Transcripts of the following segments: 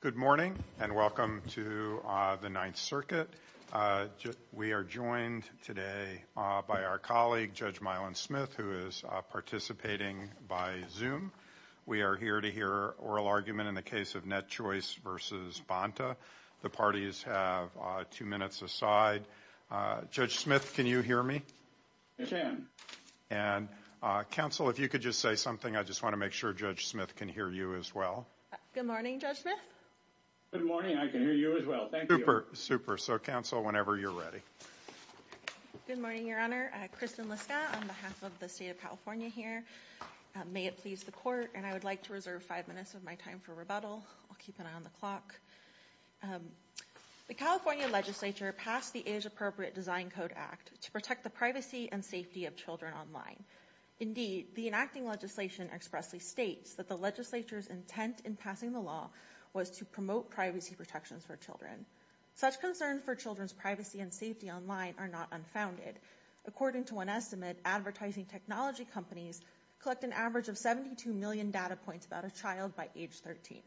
Good morning and welcome to the Ninth Circuit. We are joined today by our colleague, Judge Mylon Smith, who is participating by Zoom. We are here to hear oral argument in the case of NetChoice v. Bonta. The parties have two minutes aside. Judge Smith, can you hear me? I can. And counsel, if you could just say something. I just want to make sure Judge Smith can hear you as well. Good morning, Judge Smith. Good morning. I can hear you as well. Thank you. Super. So, counsel, whenever you're ready. Good morning, Your Honor. Kristen Liska on behalf of the state of California here. May it please the court. And I would like to reserve five minutes of my time for rebuttal. I'll keep an eye on the clock. The California legislature passed the age appropriate design code act to protect the privacy and safety of children online. Indeed, the enacting legislation expressly states that the legislature's intent in passing the law was to promote privacy protections for children. Such concerns for children's privacy and safety online are not unfounded. According to one estimate, advertising technology companies collect an average of 72 million data points about a child by age 13.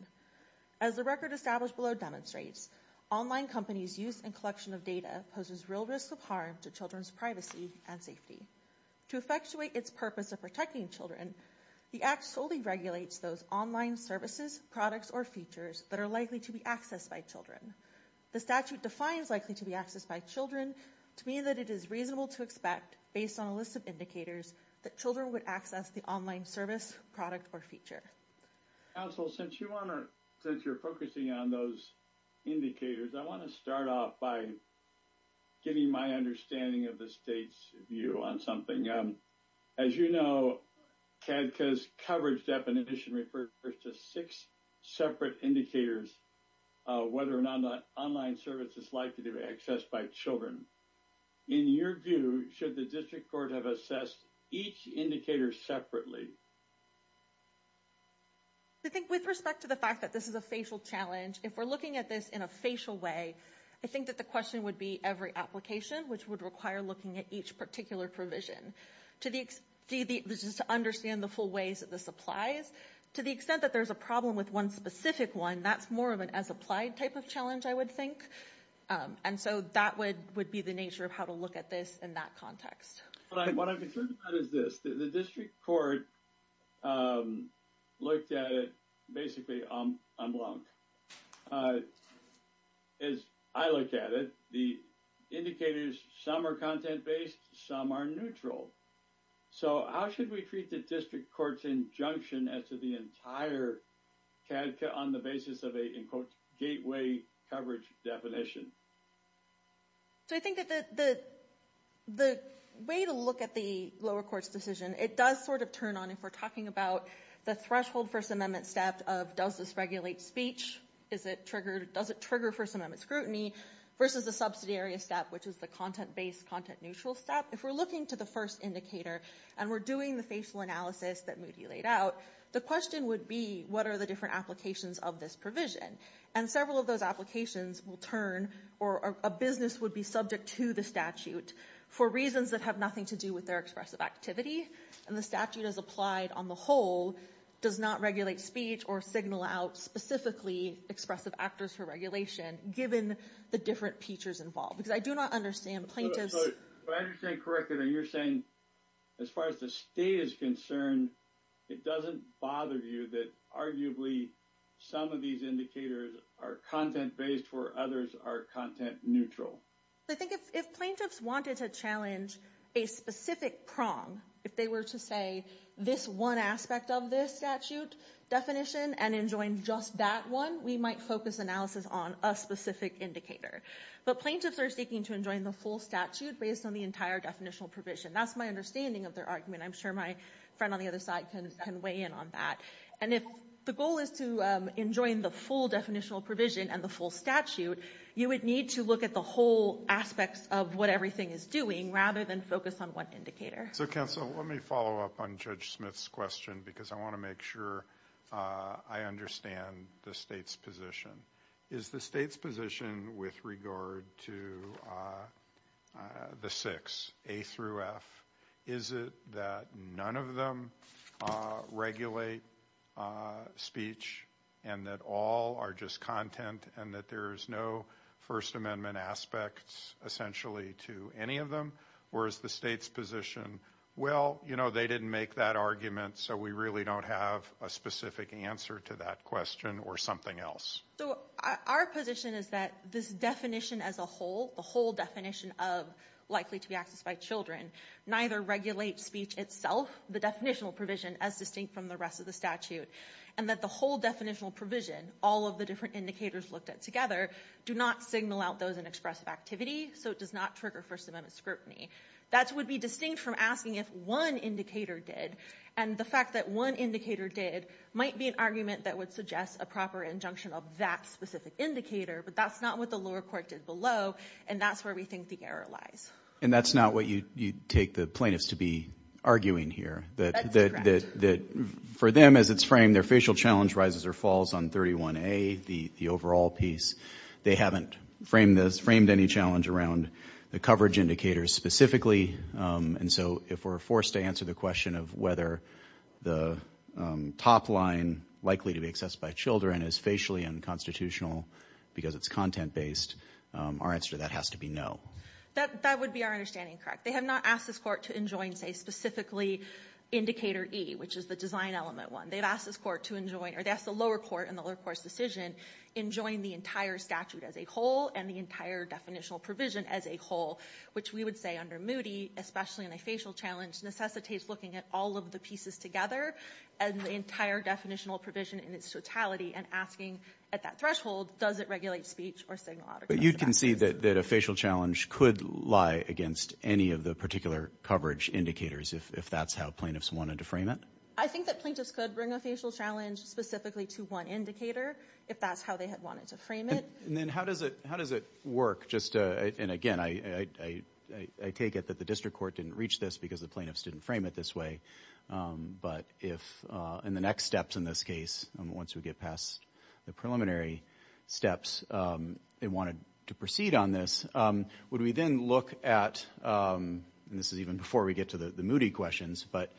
As the record established below demonstrates, online companies use and collection of data poses real risks of harm to children's privacy and safety. To effectuate its purpose of protecting children, the act solely regulates those online services, products or features that are likely to be accessed by children. The statute defines likely to be accessed by children to mean that it is reasonable to expect based on a list of indicators that children would access the online service product or feature. Counsel, since you want to since you're focusing on those indicators, I want to start off by getting my understanding of the state's view on something. As you know, CADCA's coverage definition refers to six separate indicators whether or not the online service is likely to be accessed by children. In your view, should the district court have assessed each indicator separately? I think with respect to the fact that this is a facial challenge, if we're looking at this in a facial way, I think that the question would be every application which would require looking at each particular provision. To the extent that there's a problem with one specific one, that's more of an as applied type of challenge, I would think. And so that would be the nature of how to look at this in that context. What I'm concerned about is this. The as I look at it, the indicators, some are content-based, some are neutral. So how should we treat the district court's injunction as to the entire CADCA on the basis of a gateway coverage definition? So I think that the way to look at the lower court's decision, it does sort of turn on if we're talking about the threshold First Amendment stepped of does this regulate speech? Does it trigger First Amendment scrutiny? Versus the subsidiary step which is the content-based, content-neutral step. If we're looking to the first indicator and we're doing the facial analysis that Moody laid out, the question would be what are the different applications of this provision? And several of those applications will turn or a business would be subject to the statute for reasons that have nothing to do with their expressive activity. And the statute as applied on the whole does not regulate speech or signal out specifically expressive actors for regulation, given the different features involved. Because I do not understand plaintiffs. If I understand correctly, you're saying as far as the state is concerned, it doesn't bother you that arguably some of these indicators are content-based where others are content-neutral? I think if plaintiffs wanted to challenge a specific prong, if they were to say this one aspect of this statute definition and enjoin just that one, we might focus analysis on a specific indicator. But plaintiffs are seeking to enjoin the full statute based on the entire definitional provision. That's my understanding of their argument. I'm sure my friend on the other side can weigh in on that. And if the goal is to enjoin the full definitional provision and the full statute, you would need to look at the whole aspects of what everything is doing rather than focus on one indicator. So counsel, let me follow up on Judge Smith's question because I want to make sure I understand the state's position. Is the state's position with regard to the six, A through F, is it that none of them regulate speech and that all are just content and that there is no First Amendment aspects essentially to any of them? Or is the state's position, well, they didn't make that argument so we really don't have a specific answer to that question or something else? So our position is that this definition as a whole, the whole definition of likely to be accessed by children, neither regulate speech itself, the definitional provision as distinct from the rest of the statute, and that the whole definitional provision, all of the different indicators looked at together, do not signal out those in expressive activity, so it does not trigger First Amendment scrutiny. That would be distinct from asking if one indicator did, and the fact that one indicator did might be an argument that would suggest a proper injunction of that specific indicator, but that's not what the lower court did below, and that's where we think the error lies. And that's not what you take the plaintiffs to be arguing here. That's correct. For them, as it's framed, their facial challenge rises or falls on 31A, the overall piece. They haven't framed this, framed any challenge around the coverage indicators specifically, and so if we're forced to answer the question of whether the top line, likely to be accessed by children, is facially unconstitutional because it's content-based, our answer to that has to be no. That would be our understanding, correct. They have not asked this court to enjoin, say specifically, indicator E, which is the design element one. They've asked this court to enjoin, or they've asked the lower court in the lower court's decision, enjoin the entire statute as a whole and the entire definitional provision as a whole, which we would say under Moody, especially in a facial challenge, necessitates looking at all of the pieces together and the entire definitional provision in its totality and asking at that threshold, does it regulate speech or signal out? But you can see that a facial challenge could lie against any of the particular coverage indicators if that's how plaintiffs wanted to frame it. I think that plaintiffs could bring a facial challenge specifically to one indicator if that's how they had wanted to frame it. And then how does it work? And again, I take it that the district court didn't reach this because the plaintiffs didn't frame it this way, but if in the next steps in this case, once we get past the preliminary steps, they wanted to proceed on this, would we then look at, and this is even before we get to the Moody questions, but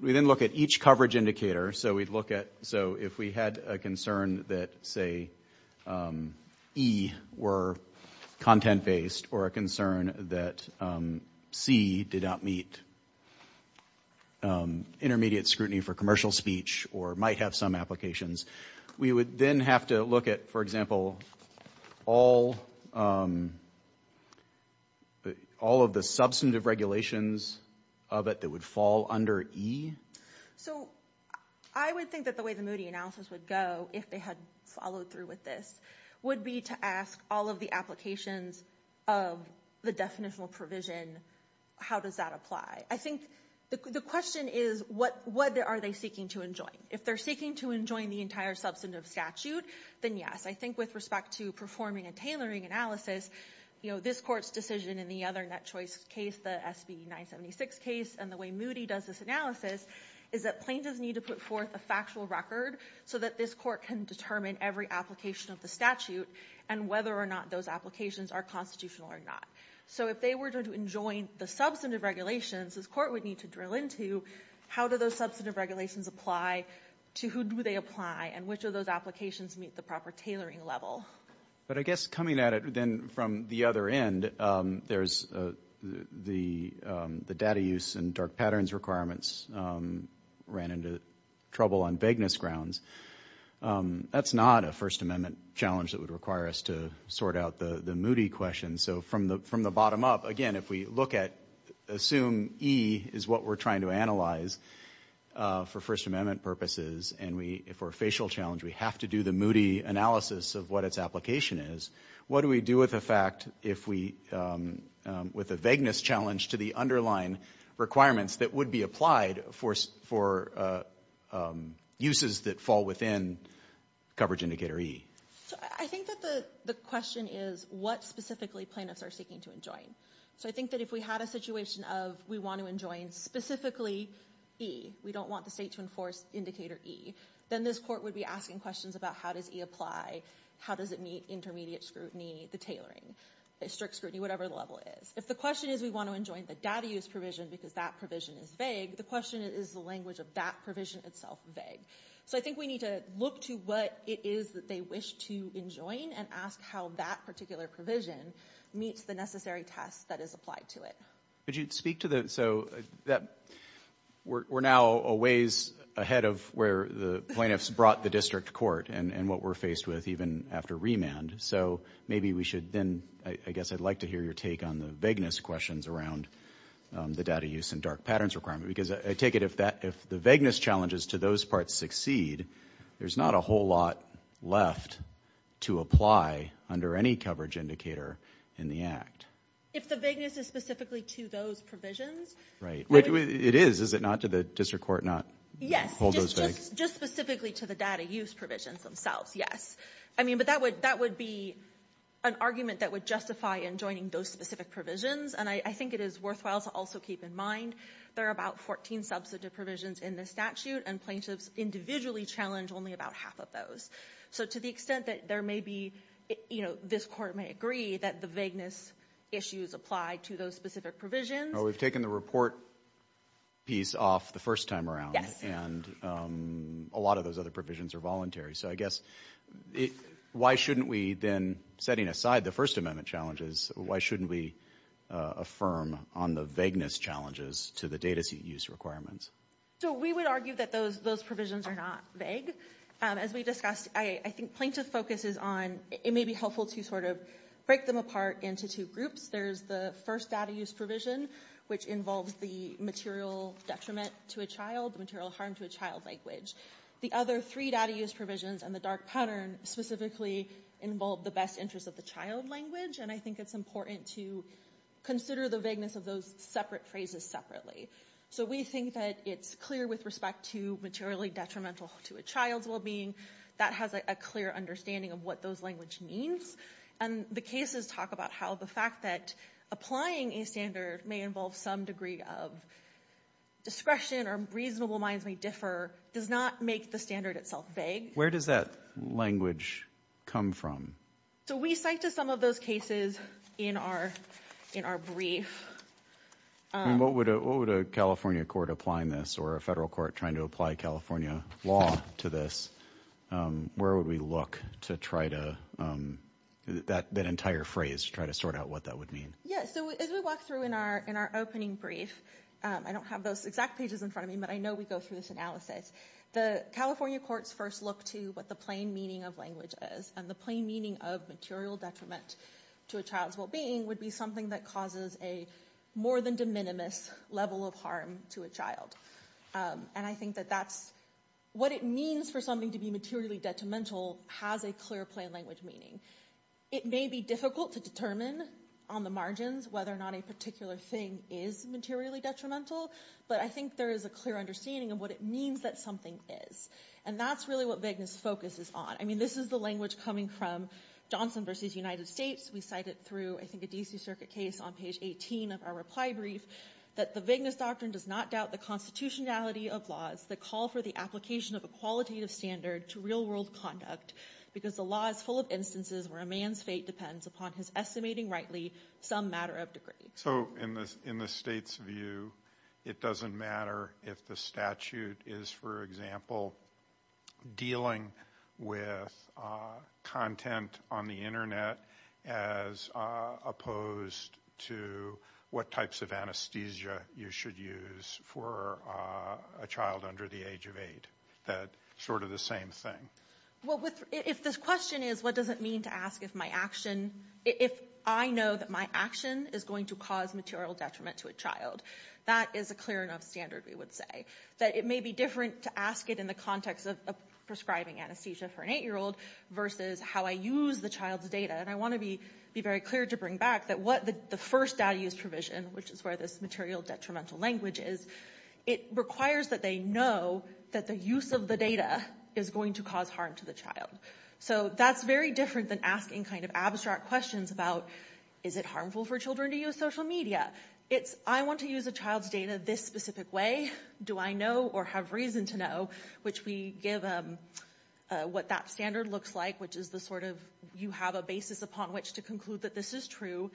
we then look at each coverage indicator, so we'd look at, so if we had a concern that, say, E were content-based or a concern that C did not meet intermediate scrutiny for commercial speech or might have some applications, we would then have to look at, for example, all, all of the individual all of the substantive regulations of it that would fall under E? So I would think that the way the Moody analysis would go, if they had followed through with this, would be to ask all of the applications of the definitional provision, how does that apply? I think the question is, what are they seeking to enjoin? If they're seeking to enjoin the entire substantive statute, then yes. I think with respect to performing a tailoring analysis, you know, this court's decision in the other Net Choice case, the SB 976 case, and the way Moody does this analysis, is that plaintiffs need to put forth a factual record so that this court can determine every application of the statute and whether or not those applications are constitutional or not. So if they were to enjoin the substantive regulations, this court would need to drill into, how do those substantive regulations apply to who do they apply and which of those applications meet the proper tailoring level. But I guess coming at it then from the other end, there's the data use and dark patterns requirements ran into trouble on vagueness grounds. That's not a First Amendment challenge that would require us to sort out the Moody question. So from the bottom up, again, if we look at, assume E is what we're trying to analyze for First Amendment purposes, and for a facial challenge, we have to do the Moody analysis of what its application is, what do we do with the fact if we, with a vagueness challenge to the underlying requirements that would be applied for uses that fall within coverage indicator E? I think that the question is what specifically plaintiffs are seeking to enjoin. So I think that if we had a situation of we want to enjoin specifically E, we don't want the state to enforce indicator E, then this court would be asking questions about how does E apply, how does it meet intermediate scrutiny, the tailoring, the strict scrutiny, whatever the level is. If the question is we want to enjoin the data use provision because that provision is vague, the question is the language of that provision itself vague. So I think we need to look to what it is that they wish to enjoin and ask how that particular provision meets the necessary test that is applied to it. Could you speak to the, so we're now a ways ahead of where the plaintiffs brought the district court and what we're faced with even after remand, so maybe we should then, I guess I'd like to hear your take on the vagueness questions around the data use and dark patterns requirement because I take it if the vagueness challenges to those parts succeed, there's not a whole lot left to apply under any coverage indicator in the Act. If the vagueness is specifically to those provisions. Right, it is, is it not to the district court not hold those vagues? Yes, just specifically to the data use provisions themselves, yes. I mean but that would be an argument that would justify enjoining those specific provisions and I think it is worthwhile to also keep in mind there are about 14 substantive provisions in this statute and plaintiffs individually challenge only about half of those. So to the extent that there may be, you know, this court may agree that the vagueness issues apply to those specific provisions. We've taken the report piece off the first time around and a lot of those other provisions are voluntary, so I guess why shouldn't we then, setting aside the First Amendment challenges, why shouldn't we affirm on the vagueness challenges to the data seat use requirements? So we would argue that those provisions are not vague. As we discussed, I think plaintiff focuses on, it may be helpful to sort of break them apart into two groups. There's the first data use provision, which involves the material detriment to a child, material harm to a child language. The other three data use provisions and the dark pattern specifically involve the best interest of the child language and I think it's important to consider the vagueness of those separate phrases separately. So we think that it's clear with respect to materially detrimental to a child's well-being, that has a clear understanding of what those language means and the cases talk about how the fact that applying a standard may involve some degree of discretion or reasonable minds may differ, does not make the standard itself vague. Where does that language come from? So we cite to some of those cases in our brief. What would a California court applying this or a federal court trying to apply California law to this, where would we look to try to, that entire phrase to try to sort out what that would mean? Yeah, so as we walk through in our opening brief, I don't have those exact pages in front of me, but I know we go through this analysis. The California courts first look to what the plain meaning of language is and the plain meaning of material detriment to a child's well-being would be something that causes a more than de minimis level of harm to a child. And I think that that's what it means for something to be materially detrimental has a clear plain language meaning. It may be difficult to determine on the margins whether or not a particular thing is materially detrimental, but I think there is a clear understanding of what it means that something is. And that's really what vagueness focus is on. I mean, this is the language coming from Johnson versus United States. We cite it through, I think a DC circuit case on page 18 of our reply brief that the vagueness doctrine does not doubt the constitutionality of laws that call for the application of a qualitative standard to real world conduct because the law is full of instances where a man's fate depends upon his estimating rightly some matter of degree. So in the state's view, it doesn't matter if the statute is, for example, dealing with content on the internet as opposed to what types of anesthesia you should use for a child under the age of eight. That's sort of the same thing. If this question is, what does it mean to ask if my action, if I know that my action is going to cause material detriment to a child, that is a clear enough standard, we would say. That it may be different to ask it in the context of prescribing anesthesia for an eight-year-old versus how I use the child's data. And I want to be very clear to bring back that what the first data use provision, which is where this material detrimental language is, it requires that they know that the use of the data is going to cause harm to the child. So that's very different than asking kind of abstract questions about is it harmful for children to use social media. It's I want to use a child's data this specific way. Do I know or have reason to know, which we give what that standard looks like, which is the sort of you have a basis upon which to conclude that this is true,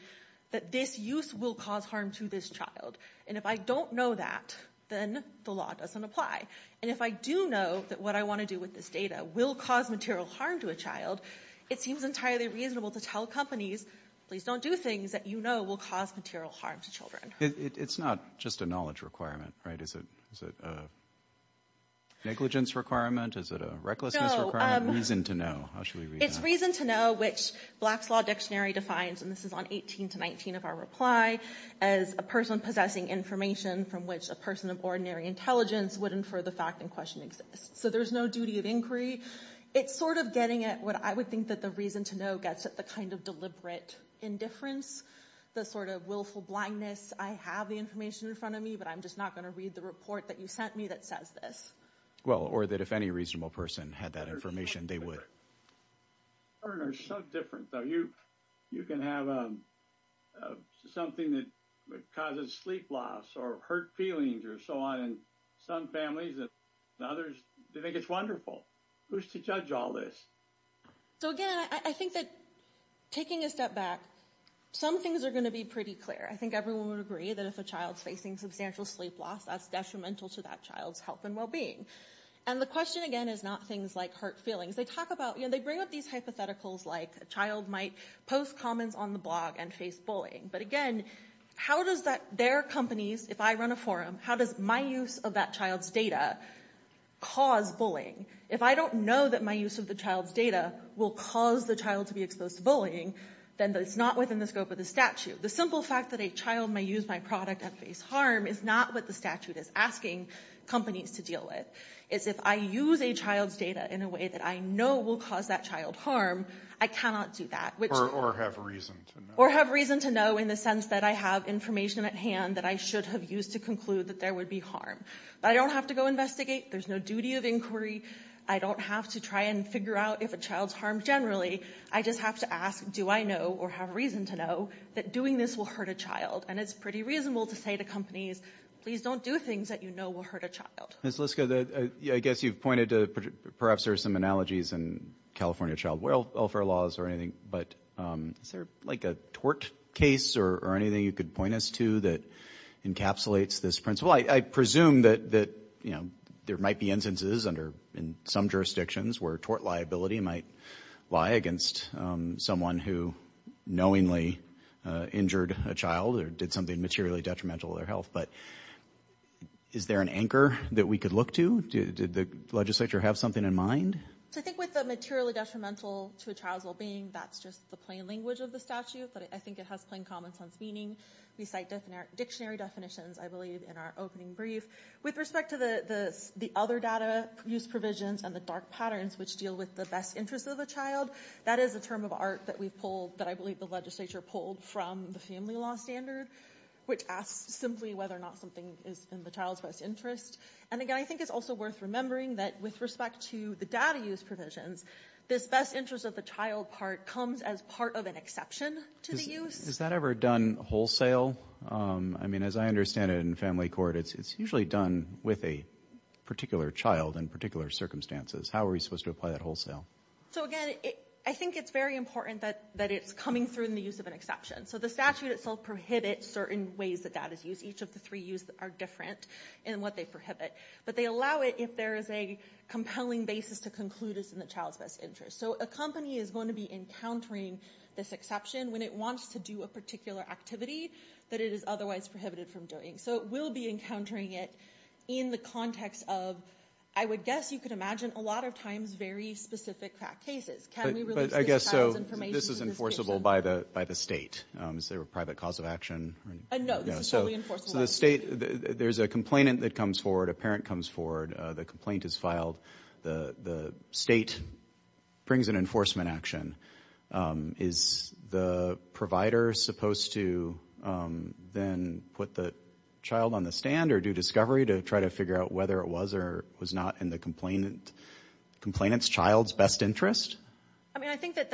that this use will cause harm to this child. And if I don't know that, then the law doesn't apply. And if I do know that what I want to do with this data will cause material harm to a child, it seems entirely reasonable to tell companies, please don't do things that you know will cause material harm to children. It's not just a knowledge requirement, right? Is it a negligence requirement? Is it a recklessness requirement? Reason to know. How should we read that? It's reason to know, which Black's Law Dictionary defines, and this is on 18 to 19 of our reply, as a person possessing information from which a person of ordinary intelligence would infer the fact in question exists. So there's no duty of inquiry. It's sort of getting at what I would think that the reason to know gets at the kind of deliberate indifference, the sort of willful blindness, I have the information in front of me, but I'm just not going to read the report that you sent me that says this. Well, or that if any reasonable person had that information, they would. It's so different, though. You can have something that causes sleep loss or hurt feelings or so on, and some families and others, they think it's wonderful. Who's to judge all this? So again, I think that taking a step back, some things are going to be pretty clear. I think everyone would agree that if a child's facing substantial sleep loss, that's detrimental to that child's health and well-being. And the question, again, is not things like hurt feelings. They talk about, you know, they bring up these hypotheticals like a child might post comments on the blog and face bullying. But again, how does that, their companies, if I run a forum, how does my use of that child's data cause bullying? If I don't know that my use of the child's data will cause the child to be exposed to bullying, then it's not within the scope of the statute. The simple fact that a child may use my product and face harm is not what the statute is asking companies to deal with. It's if I use a child's data in a way that I know will cause that child harm, I cannot do that. Or have reason to know. So in the sense that I have information at hand that I should have used to conclude that there would be harm. But I don't have to go investigate. There's no duty of inquiry. I don't have to try and figure out if a child's harmed generally. I just have to ask, do I know or have reason to know that doing this will hurt a child? And it's pretty reasonable to say to companies, please don't do things that you know will hurt a child. Ms. Liska, I guess you've pointed to perhaps there are some analogies in California child welfare laws or anything, but is there like a tort case or anything you could point us to that encapsulates this principle? I presume that there might be instances in some jurisdictions where tort liability might lie against someone who knowingly injured a child or did something materially detrimental to their health. But is there an anchor that we could look to? Did the legislature have something in mind? I think with the materially detrimental to a child's well-being, that's just the plain language of the statute. But I think it has plain common sense meaning. We cite dictionary definitions, I believe, in our opening brief. With respect to the other data use provisions and the dark patterns which deal with the best interest of the child, that is a term of art that I believe the legislature pulled from the family law standard, which asks simply whether or not something is in the child's best interest. And again, I think it's also worth remembering that with respect to the data use provisions, this best interest of the child part comes as part of an exception to the use. Is that ever done wholesale? I mean, as I understand it in family court, it's usually done with a particular child in particular circumstances. How are we supposed to apply that wholesale? So again, I think it's very important that it's coming through in the use of an exception. So the statute itself prohibits certain ways that data is used. Each of the three uses are different in what they prohibit. But they allow it if there is a compelling basis to conclude it's in the child's best interest. So a company is going to be encountering this exception when it wants to do a particular activity that it is otherwise prohibited from doing. So it will be encountering it in the context of, I would guess you could imagine a lot of times very specific cases. But I guess this is enforceable by the state. Is there a private cause of action? No, this is totally enforceable by the state. There's a complainant that comes forward, a parent comes forward, the complaint is filed, the state brings an enforcement action. Is the provider supposed to then put the child on the stand or do discovery to try to figure out whether it was or was not in the complainant's child's best interest? I mean, I think that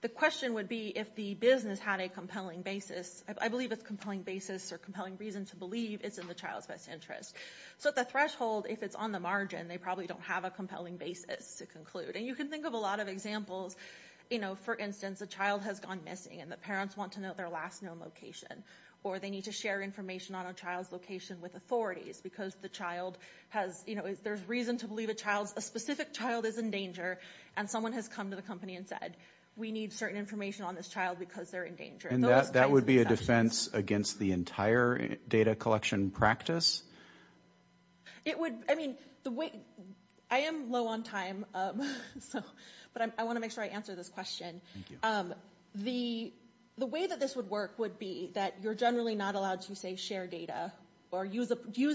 the question would be if the business had a compelling basis. I believe it's compelling basis or compelling reason to believe it's in the child's best interest. So at the threshold, if it's on the margin, they probably don't have a compelling basis to conclude. And you can think of a lot of examples. For instance, a child has gone missing and the parents want to know their last known location. Or they need to share information on a child's location with authorities because the child has, there's a reason to believe a child's, a specific child is in danger and someone has come to the company and said, we need certain information on this child because they're in danger. And that would be a defense against the entire data collection practice? It would, I mean, the way, I am low on time, but I want to make sure I answer this question. The way that this would work would be that you're generally not allowed to say share data or use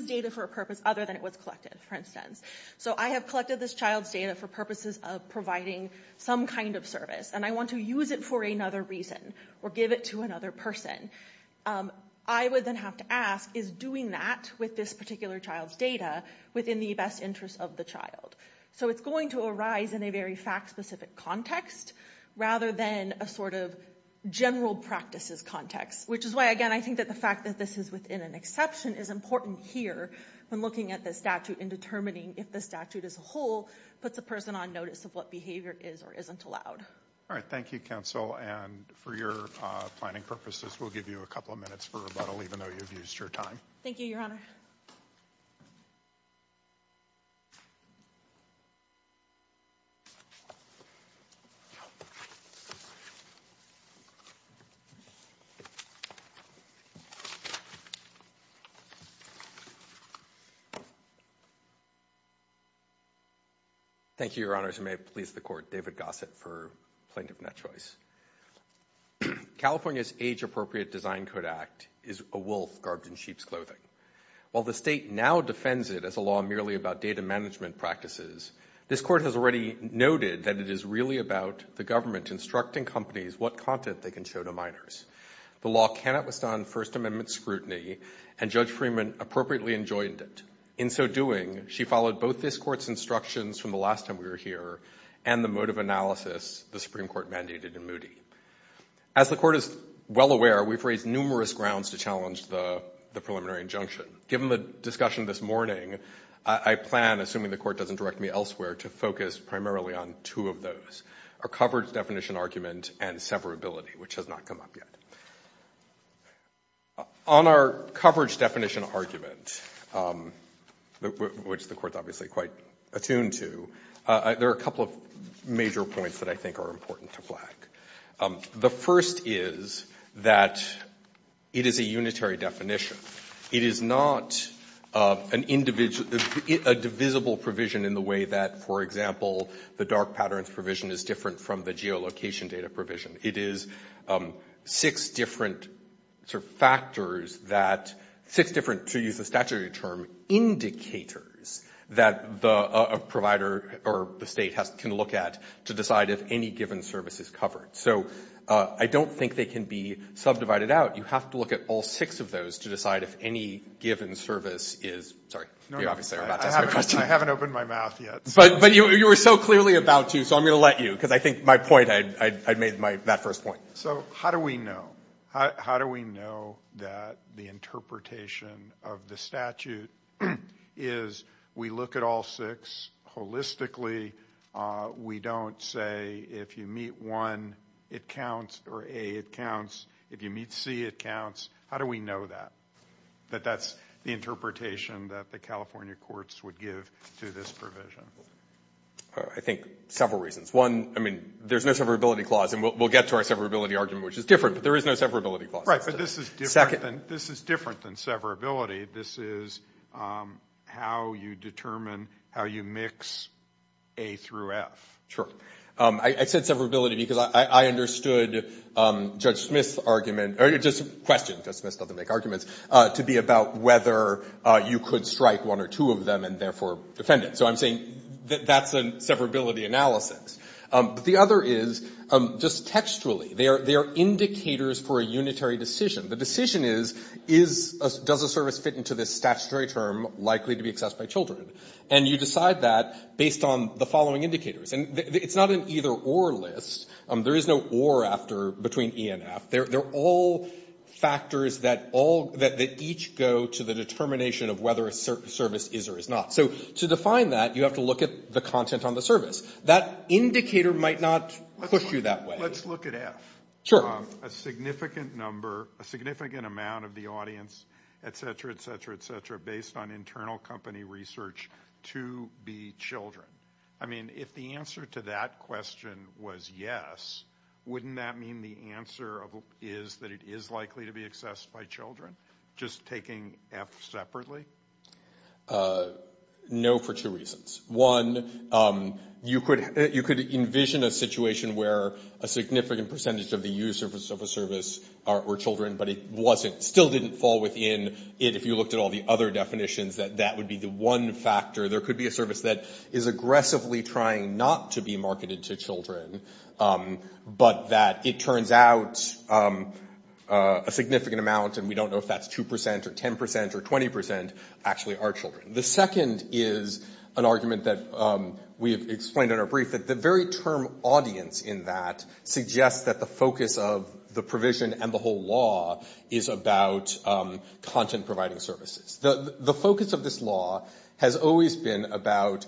data for a purpose other than it was collected, for instance. So I have collected this child's data for purposes of providing some kind of service and I want to use it for another reason or give it to another person. I would then have to ask, is doing that with this particular child's data within the best interest of the child? So it's going to arise in a very fact-specific context rather than a sort of general practices context, which is why, again, I think that the fact that this is within an exception is important here when looking at the statute and determining if the statute as a whole puts a person on notice of what behavior is or isn't allowed. All right. Thank you, counsel. And for your planning purposes, we'll give you a couple of minutes for rebuttal, even though you've used your time. Thank you, Your Honor. Thank you, Your Honors. And may it please the Court, David Gossett for Plaintiff Net Choice. California's Age-Appropriate Design Code Act is a wolf garbed in sheep's clothing. While the State now defends it as a law merely about data management practices, this Court has already noted that it is really about the government instructing companies what content they can show to minors. The law cannot withstand First Amendment scrutiny and Judge Freeman appropriately enjoined it. In so doing, she followed both this Court's instructions from the last time we were here and the mode of analysis the Supreme Court mandated in As the Court is well aware, we've raised numerous grounds to challenge the preliminary injunction. Given the discussion this morning, I plan, assuming the Court doesn't direct me elsewhere, to focus primarily on two of those, our coverage definition argument and severability, which has not come up yet. On our coverage definition argument, which the Court is obviously quite attuned to, there are a couple of major points that I think are important to flag. The first is that it is a unitary definition. It is not a divisible provision in the way that, for example, the network patterns provision is different from the geolocation data provision. It is six different sort of factors that, six different, to use the statutory term, indicators that the provider or the State can look at to decide if any given service is covered. So I don't think they can be subdivided out. You have to look at all six of those to decide if any given service is, sorry, you obviously are about to ask me a question. I haven't opened my mouth yet. But you were so clearly about to, so I'm going to let you, because I think my point, I made my, that first point. So how do we know? How do we know that the interpretation of the statute is we look at all six holistically. We don't say if you meet one, it counts, or A, it counts. If you meet C, it counts. How do we know that? That that's the interpretation that the California courts would give to this provision. I think several reasons. One, I mean, there's no severability clause, and we'll get to our severability argument, which is different, but there is no severability clause. Right, but this is different than severability. This is how you determine how you mix A through F. Sure. I said severability because I understood Judge Smith's argument, or just a question, Judge Smith doesn't make arguments, to be about whether you could strike one or two of them and therefore defend it. So I'm saying that that's a severability analysis. But the other is, just textually, they are indicators for a unitary decision. The decision is, is, does a service fit into this statutory term likely to be accessed by children? And you decide that based on the following indicators. And it's not an either or list. There is no or after, between E and F. They're all factors that all, that each go to the determination of whether a service is or is not. So to define that, you have to look at the content on the service. That indicator might not push you that way. Let's look at F. Sure. A significant number, a significant amount of the audience, et cetera, et cetera, et cetera. If the answer to that question was yes, wouldn't that mean the answer is that it is likely to be accessed by children? Just taking F separately? No for two reasons. One, you could envision a situation where a significant percentage of the users of a service are children, but it wasn't, still didn't fall within it, if you looked at all the other definitions, that that would be the one factor. There could be a service that is aggressively trying not to be marketed to children, but that it turns out a significant amount, and we don't know if that's 2% or 10% or 20%, actually are children. The second is an argument that we have explained in our brief, that the very term audience in that suggests that the focus of the provision and the whole law is about content providing services. The focus of this law has always been about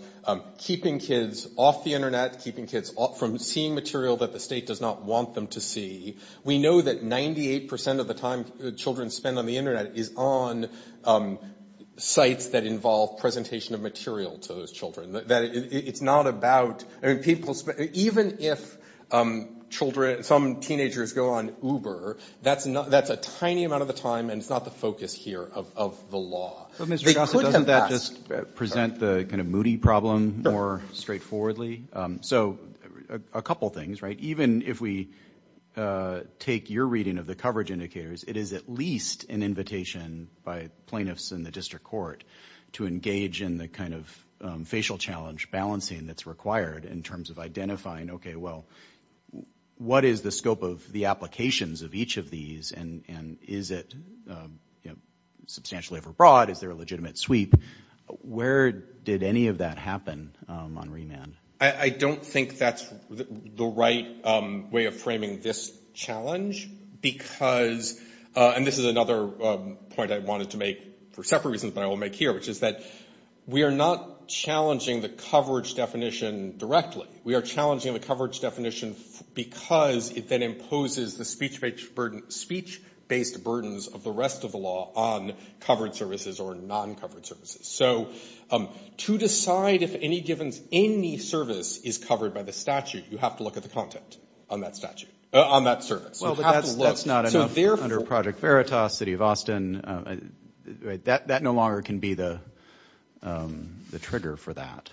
keeping kids off the Internet, keeping kids from seeing material that the state does not want them to see. We know that 98% of the time children spend on the Internet is on sites that involve presentation of material to those children. It's not about, I mean, people, even if children, some teenagers go on Uber, that's a tiny amount of the time, and it's not the focus here of the law. But Mr. Shostak, doesn't that just present the kind of moody problem more straightforwardly? So a couple things, right? Even if we take your reading of the coverage indicators, it is at least an invitation by plaintiffs in the district court to engage in the kind of facial challenge balancing that's required in terms of identifying, okay, well, what is the scope of the applications of each of these, and is it, you know, substantially over broad, is there a legitimate sweep? Where did any of that happen on remand? I don't think that's the right way of framing this challenge, because, and this is another point I wanted to make for separate reasons, but I will make here, which is that we are not challenging the coverage definition directly. We are challenging the coverage definition because it then imposes the speech-based burdens of the rest of the law on covered services or non-covered services. So to decide if any given, any service is covered by the statute, you have to look at the content on that statute, on that service. Well, but that's not enough under Project Veritas, City of Austin. That no longer can be the trigger for that.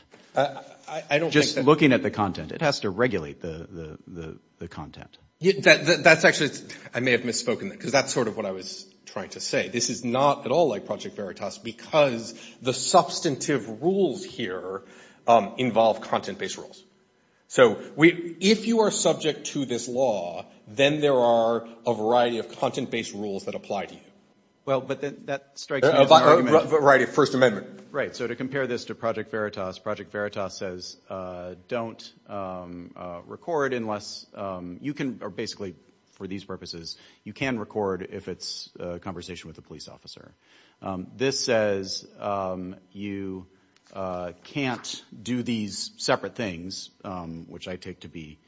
Just looking at the content. It has to regulate the content. That's actually, I may have misspoken there, because that's sort of what I was trying to say. This is not at all like Project Veritas, because the substantive rules here involve content-based rules. So if you are subject to this law, then there are a variety of content-based rules that apply to you. Well, but that strikes me as an argument. Right, First Amendment. Right, so to compare this to Project Veritas, Project Veritas says don't record unless, you can basically, for these purposes, you can record if it's a conversation with a police officer. This says you can't do these separate things, which I take to be,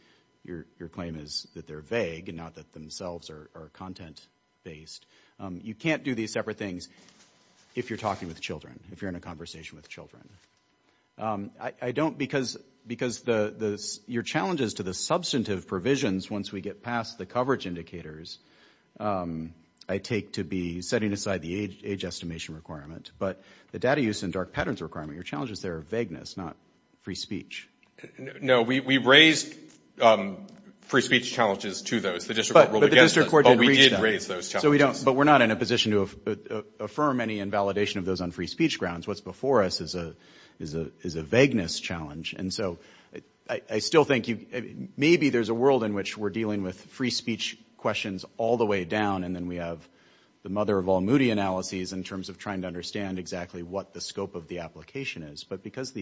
your claim is that they're vague and not that themselves are content-based. You can't do these separate things if you're talking with children, if you're in a conversation with children. I don't, because your challenges to the substantive provisions, once we get past the coverage indicators, I take to be setting aside the age estimation requirement. But the data use and dark patterns requirement, your challenges there are vagueness, not free speech. No, we raised free speech challenges to those. The district court ruled against those. But the district court didn't reach them. But we did raise those challenges. But we're not in a position to affirm any invalidation of those on free speech grounds. What's before us is a vagueness challenge. And so I still think maybe there's a world in which we're dealing with free speech questions all the way down and then we have the mother of all Moody analyses in terms of trying to understand exactly what the scope of the application is. But because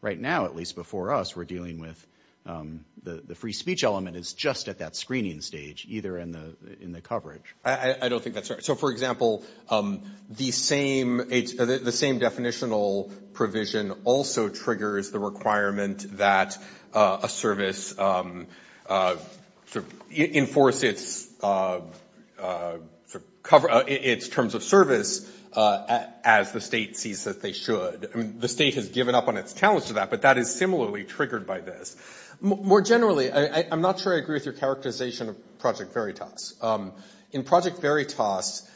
right now, at least before us, we're dealing with the free speech element is just at that screening stage, either in the coverage. I don't think that's right. So, for example, the same definitional provision also triggers the requirement that a service enforce its terms of service as the state sees that they should. I mean, the state has given up on its challenge to that, but that is similarly triggered by this. More generally, I'm not sure I agree with your characterization of Project Veritas. In Project Veritas,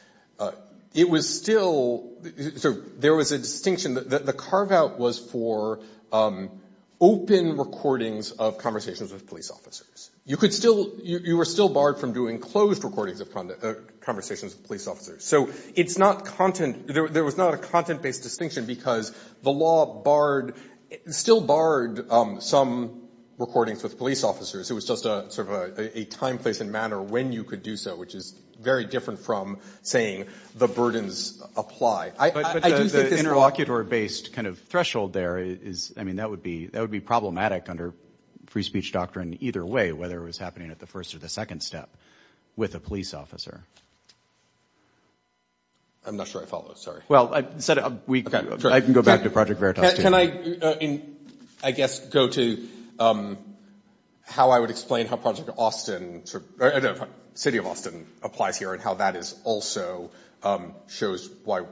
it was still, there was a distinction. The carve out was for open recordings of conversations with police officers. You were still barred from doing closed recordings of conversations with police officers. So there was not a content based distinction because the law still barred some recordings with police officers. It was just sort of a time, place and manner when you could do so, which is very different from saying the burdens apply. But the interlocutor based kind of threshold there is, I mean, that would be problematic under free speech doctrine either way, whether it was happening at the first or the second step with a police officer. I'm not sure I follow. Sorry. Well, I said, I can go back to Project Veritas. Can I, I guess, go to how I would explain how Project Austin, City of Austin applies here and how that is also shows why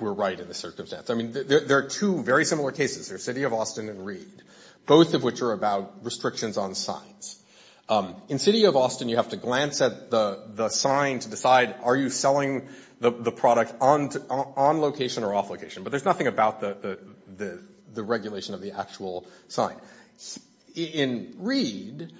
we're right in this circumstance. I mean, there are two very similar cases. There's City of Austin and Reed, both of which are about restrictions on signs. In City of Austin, you have to glance at the sign to decide are you selling the product on location or off location. But there's nothing about the regulation of the actual sign. In Reed,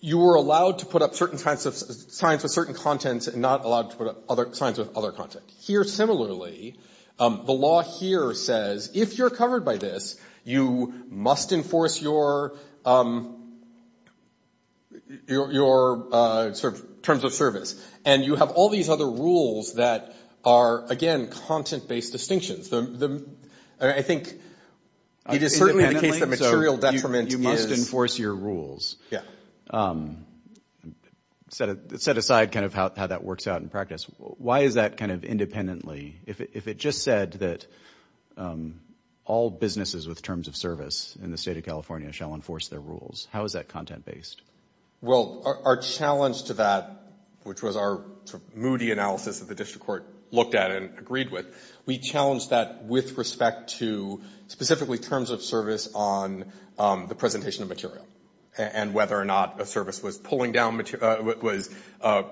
you were allowed to put up certain kinds of signs with certain contents and not allowed to put up signs with other content. Here, similarly, the law here says if you're covered by this, you must enforce your terms of service. And you have all these other rules that are, again, content-based distinctions. I think it is certainly the case that material detriment is... It is certainly the case that material detriment is... You must enforce your rules. Yeah. Set aside kind of how that works out in practice. Why is that kind of independently? If it just said that all businesses with terms of service in the state of California shall enforce their rules, how is that content-based? Well, our challenge to that, which was our sort of moody analysis that the district court looked at and agreed with, we challenged that with respect to specifically terms of service on the presentation of material and whether or not a service was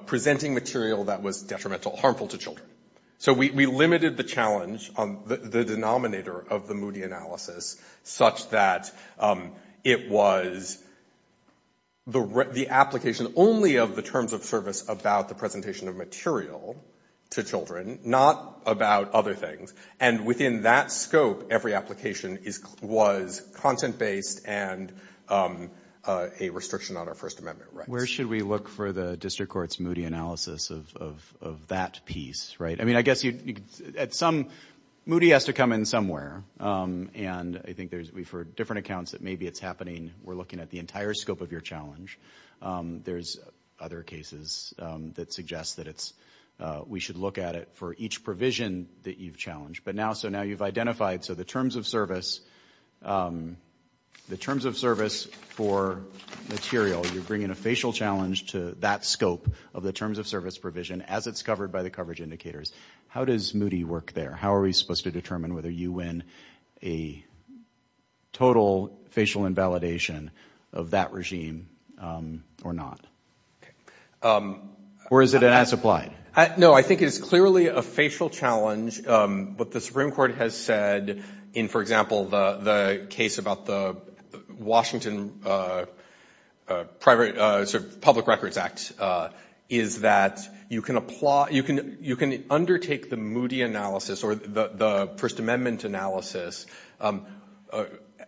presenting material that was detrimental, harmful to children. So we limited the challenge, the denominator of the moody analysis, such that it was the application only of the terms of service about the presentation of material to children, not about other things. And within that scope, every application was content-based and a restriction on our First Amendment rights. Where should we look for the district court's moody analysis of that piece, right? I mean, some moody has to come in somewhere, and I think we've heard different accounts that maybe it's happening. We're looking at the entire scope of your challenge. There's other cases that suggest that we should look at it for each provision that you've challenged. But now, so now you've identified, so the terms of service for material, you're bringing a facial challenge to that scope of the terms of service provision as it's covered by the coverage indicators. How does moody work there? How are we supposed to determine whether you win a total facial invalidation of that regime or not? Or is it as applied? No, I think it's clearly a facial challenge. But the Supreme Court has said in, for example, the case about the Washington Public Records Act, is that you can apply, you can undertake the moody analysis or the First Amendment analysis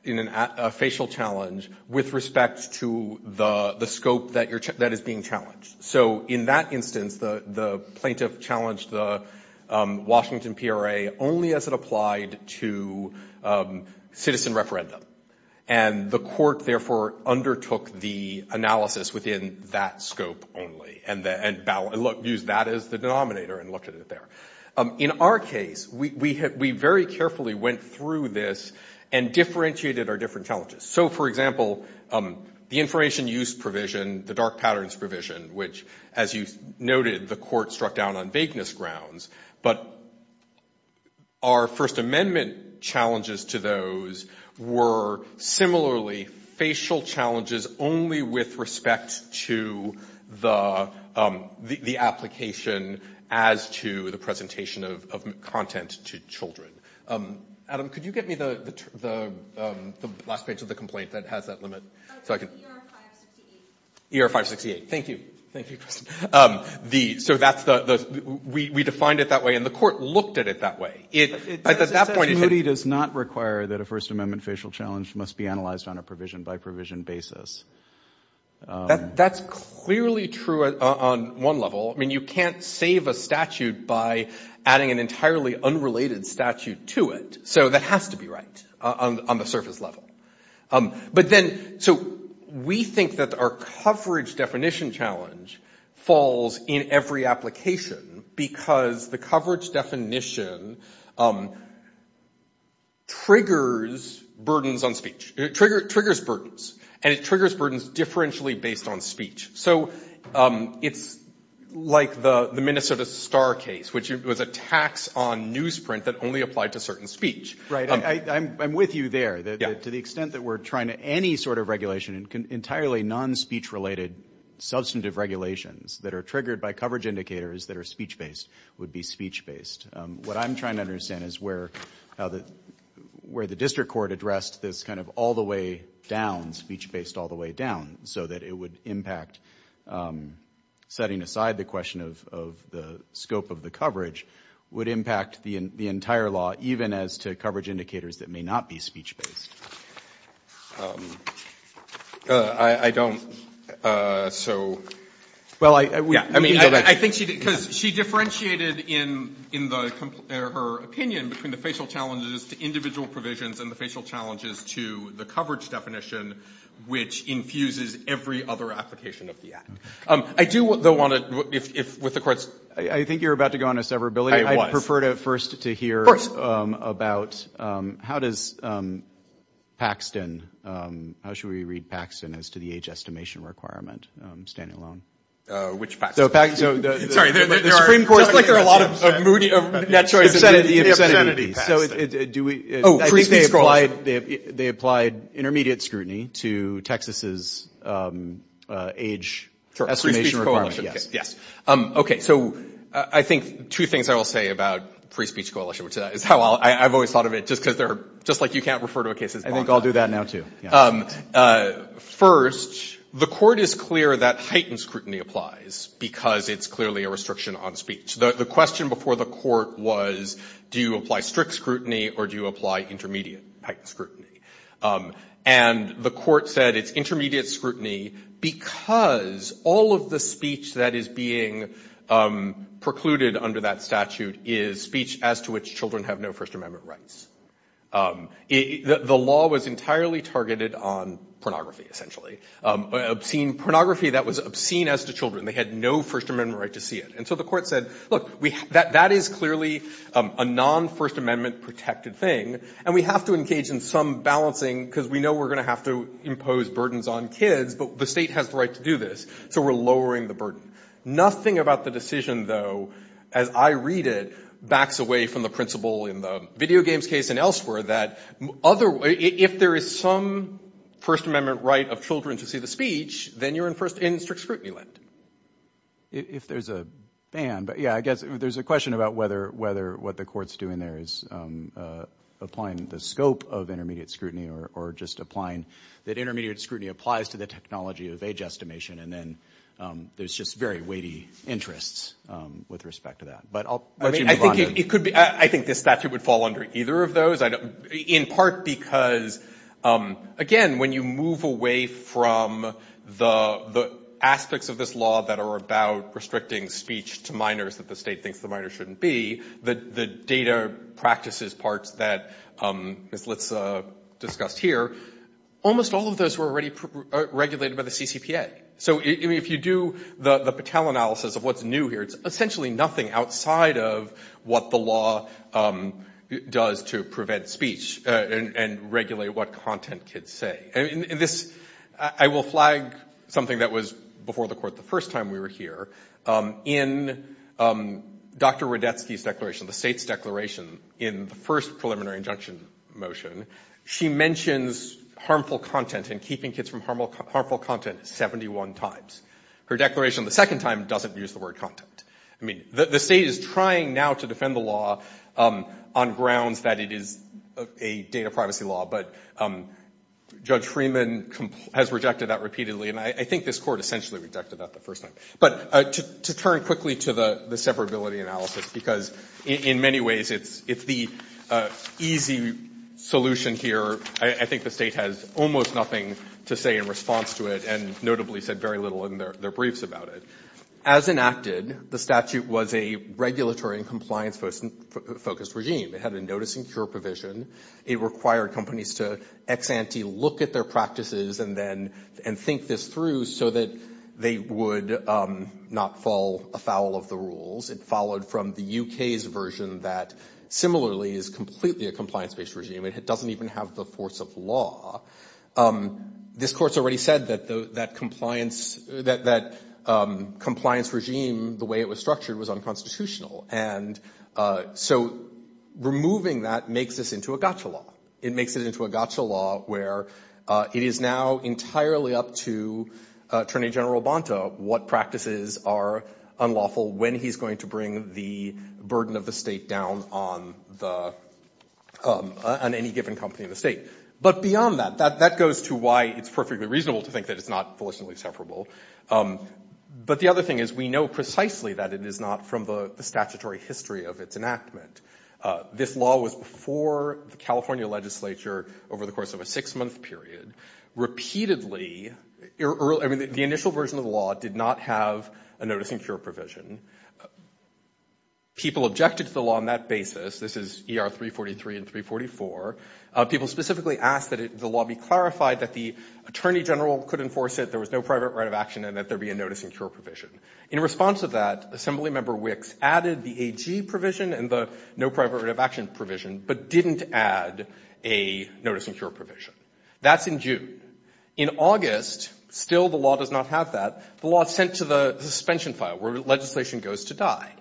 in a facial challenge with respect to the scope that is being challenged. So in that instance, the plaintiff challenged the Washington PRA only as it applied to citizen referendum. And the court therefore undertook the analysis within that scope only, and used that as the denominator and looked at it there. In our case, we very carefully went through this and differentiated our different challenges. So, for example, the information use provision, the dark patterns provision, which as you noted, the court struck down on vagueness grounds. But our First Amendment challenges to those were similarly facial challenges only with respect to the application as to the presentation of content to children. Adam, could you get me the last page of the complaint that has that limit? Oh, it's ER 568. ER 568. Thank you. Thank you, Kristen. So that's the, we defined it that way, and the court looked at it that way. It, at that point, it's- Moody does not require that a First Amendment facial challenge must be analyzed on a provision by provision basis. That's clearly true on one level. I mean, you can't save a statute by adding an entirely unrelated statute to it. So that has to be right on the surface level. But then, so we think that our coverage definition challenge falls in every application because the coverage definition triggers burdens on speech. It triggers burdens, and it triggers burdens differentially based on speech. So it's like the Minnesota Star case, which was a tax on newsprint that only applied to certain speech. Right. I'm with you there. To the extent that we're trying to, any sort of regulation, entirely non-speech-related substantive regulations that are triggered by coverage indicators that are speech-based would be speech-based. What I'm trying to understand is where the district court addressed this kind of all the way down, speech-based all the way down, so that it would impact, setting aside the question of the scope of the coverage, would impact the entire law, even as to coverage indicators that may not be speech-based. I don't, so. Well, I mean, I think she did, because she differentiated in her opinion between the facial challenges to individual provisions and the facial challenges to the coverage definition, which infuses every other application of the act. I do, though, with the courts. I think you're about to go on a severability. I'd prefer to first to hear about how does Paxton, how should we read Paxton as to the age estimation requirement, standing alone? Which Paxton? Sorry. The Supreme Court. It's like there are a lot of moody of net choices. The obscenity. The obscenity. Oh, free speech coalition. They applied intermediate scrutiny to Texas's age estimation requirement. Yes. Okay. So, I think two things I will say about free speech coalition, which is how I've always thought of it, just because they're, just like you can't refer to a case as long time. I think I'll do that now, too. First, the court is clear that heightened scrutiny applies, because it's clearly a restriction on speech. The question before the court was, do you apply strict scrutiny, or do you apply intermediate scrutiny? And the court said it's intermediate scrutiny, because all of the speech that is being precluded under that statute is speech as to which children have no First Amendment rights. The law was entirely targeted on pornography, essentially. Pornography that was obscene as to children. They had no First Amendment right to see it. So, the court said, look, that is clearly a non-First Amendment protected thing, and we have to engage in some balancing, because we know we're going to have to impose burdens on kids, but the state has the right to do this. So, we're lowering the burden. Nothing about the decision, though, as I read it, backs away from the principle in the video games case and elsewhere that if there is some First Amendment right of children to see the speech, then you're in strict scrutiny land. If there's a ban, but yeah, I guess there's a question about whether what the court's doing there is applying the scope of intermediate scrutiny or just applying that intermediate scrutiny applies to the technology of age estimation, and then there's just very weighty interests with respect to that. But I'll let you move on. I think this statute would fall under either of those, in part because, again, when you move away from the aspects of this law that are about restricting speech to minors that the state thinks the minor shouldn't be, the data practices parts that Ms. Litz discussed here, almost all of those were already regulated by the CCPA. So, if you do the Patel analysis of what's new here, it's essentially nothing outside of what the law does to prevent speech and regulate what content kids say. And this, I will flag something that was before the court the first time we were here. In Dr. Rodetsky's declaration, the state's declaration, in the first preliminary injunction motion, she mentions harmful content and keeping kids from harmful content 71 times. Her declaration the second time doesn't use the word content. I mean, the state is trying now to But Judge Freeman has rejected that repeatedly, and I think this court essentially rejected that the first time. But to turn quickly to the severability analysis, because in many ways, it's the easy solution here. I think the state has almost nothing to say in response to it, and notably said very little in their briefs about it. As enacted, the statute was a regulatory and compliance-focused regime. It had a notice and cure provision. It required companies to ex ante look at their practices and think this through so that they would not fall afoul of the rules. It followed from the UK's version that, similarly, is completely a compliance-based regime. It doesn't even have the force of law. This court's already said that compliance regime, the way it was So removing that makes this into a gotcha law. It makes it into a gotcha law where it is now entirely up to Attorney General Bonta what practices are unlawful when he's going to bring the burden of the state down on any given company in the state. But beyond that, that goes to why it's perfectly reasonable to think that it's not felicitously severable. But the other thing is, we know precisely that it is not from the statutory history of its enactment. This law was before the California legislature over the course of a six-month period. Repeatedly, the initial version of the law did not have a notice and cure provision. People objected to the law on that basis. This is ER 343 and 344. People specifically asked that the law be clarified that the Attorney General could enforce it, there was no private right of action, and that there be a notice and cure provision. In response to that, Assemblymember Wicks added the AG provision and the no private right of action provision, but didn't add a notice and cure provision. That's in June. In August, still the law does not have that. The law is sent to the suspension file where legislation goes to die.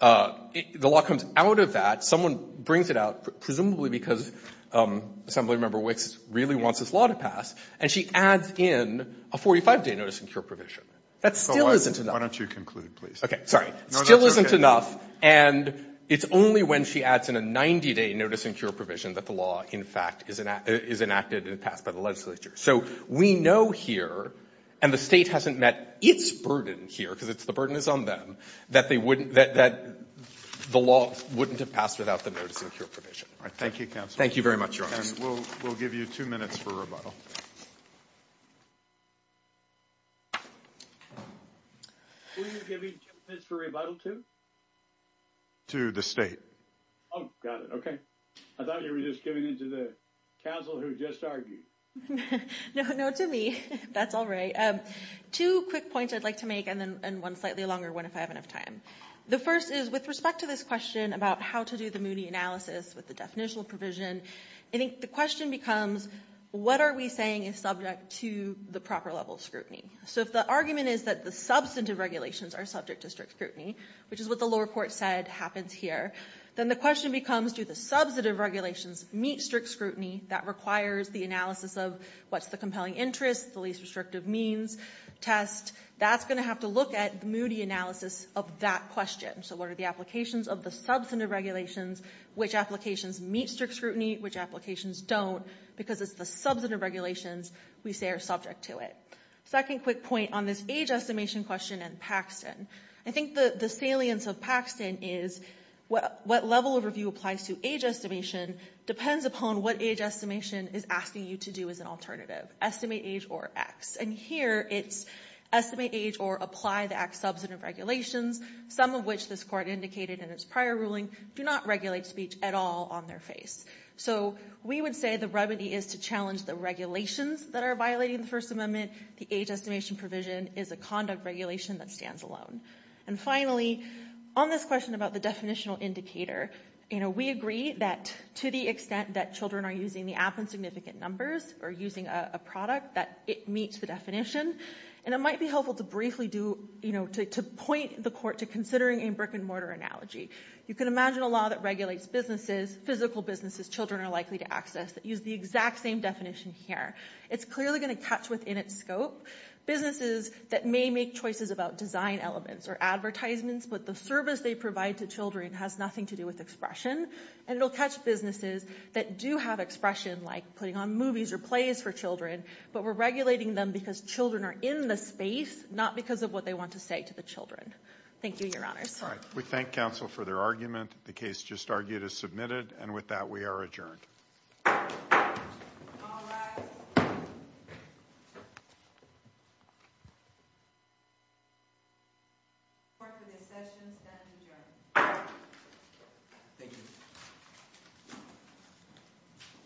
The law comes out of that. Someone brings it out, presumably because Assemblymember Wicks really wants this law to pass, and she adds in a 45-day notice and cure provision. That still isn't enough. Alitoso, why don't you conclude, please? Okay. Sorry. Still isn't enough, and it's only when she adds in a 90-day notice and cure provision that the law, in fact, is enacted and passed by the legislature. So we know here, and the State hasn't met its burden here, because the burden is on them, that they wouldn't, that the law wouldn't have passed without the notice and cure provision. Thank you, counsel. Thank you very much, Your Honor. We'll give you two minutes for rebuttal. Who are you giving two minutes for rebuttal to? To the State. Oh, got it. Okay. I thought you were just giving it to the counsel who just argued. No, to me. That's all right. Two quick points I'd like to make, and then one slightly longer one if I have enough time. The first is, with respect to this question about how to do the Moody analysis with the definitional provision, I think the question becomes, what are we saying is subject to the proper level of scrutiny? So if the argument is that the substantive regulations are subject to strict scrutiny, which is what the lower court said happens here, then the question becomes, do the substantive regulations meet strict scrutiny that requires the analysis of what's the compelling interest, the least restrictive means test? That's going to have to look at the Moody analysis of that question. So what are the applications of the substantive regulations? Which applications meet strict scrutiny? Which applications don't? Because it's the substantive regulations we say are subject to it. Second quick point on this age estimation question and Paxton. I think the salience of Paxton is, what level of review applies to age estimation depends upon what age estimation is asking you to do as an alternative. Estimate age or X. And here it's estimate age or apply the act's substantive regulations, some of which this court indicated in its prior ruling do not regulate speech at all on their face. So we would say the remedy is to challenge the regulations that are violating the First Amendment. The age estimation provision is a conduct regulation that stands alone. And finally, on this question about the definitional indicator, we agree that to the extent that children are using the app in significant numbers or using a product that it meets the definition. And it might be helpful to briefly point the court to considering a brick and mortar analogy. You can imagine a law that regulates businesses, physical businesses children are likely to access that use the exact same definition here. It's clearly going to catch within its scope businesses that may make choices about design elements or advertisements, but the service they provide to children has nothing to do with expression. And it'll catch businesses that do have expression like putting on movies or plays for children. But we're regulating them because children are in the space, not because of what they want to say to the children. Thank you, Your Honors. All right, we thank counsel for their argument. The case just argued is submitted. And with that, we are adjourned.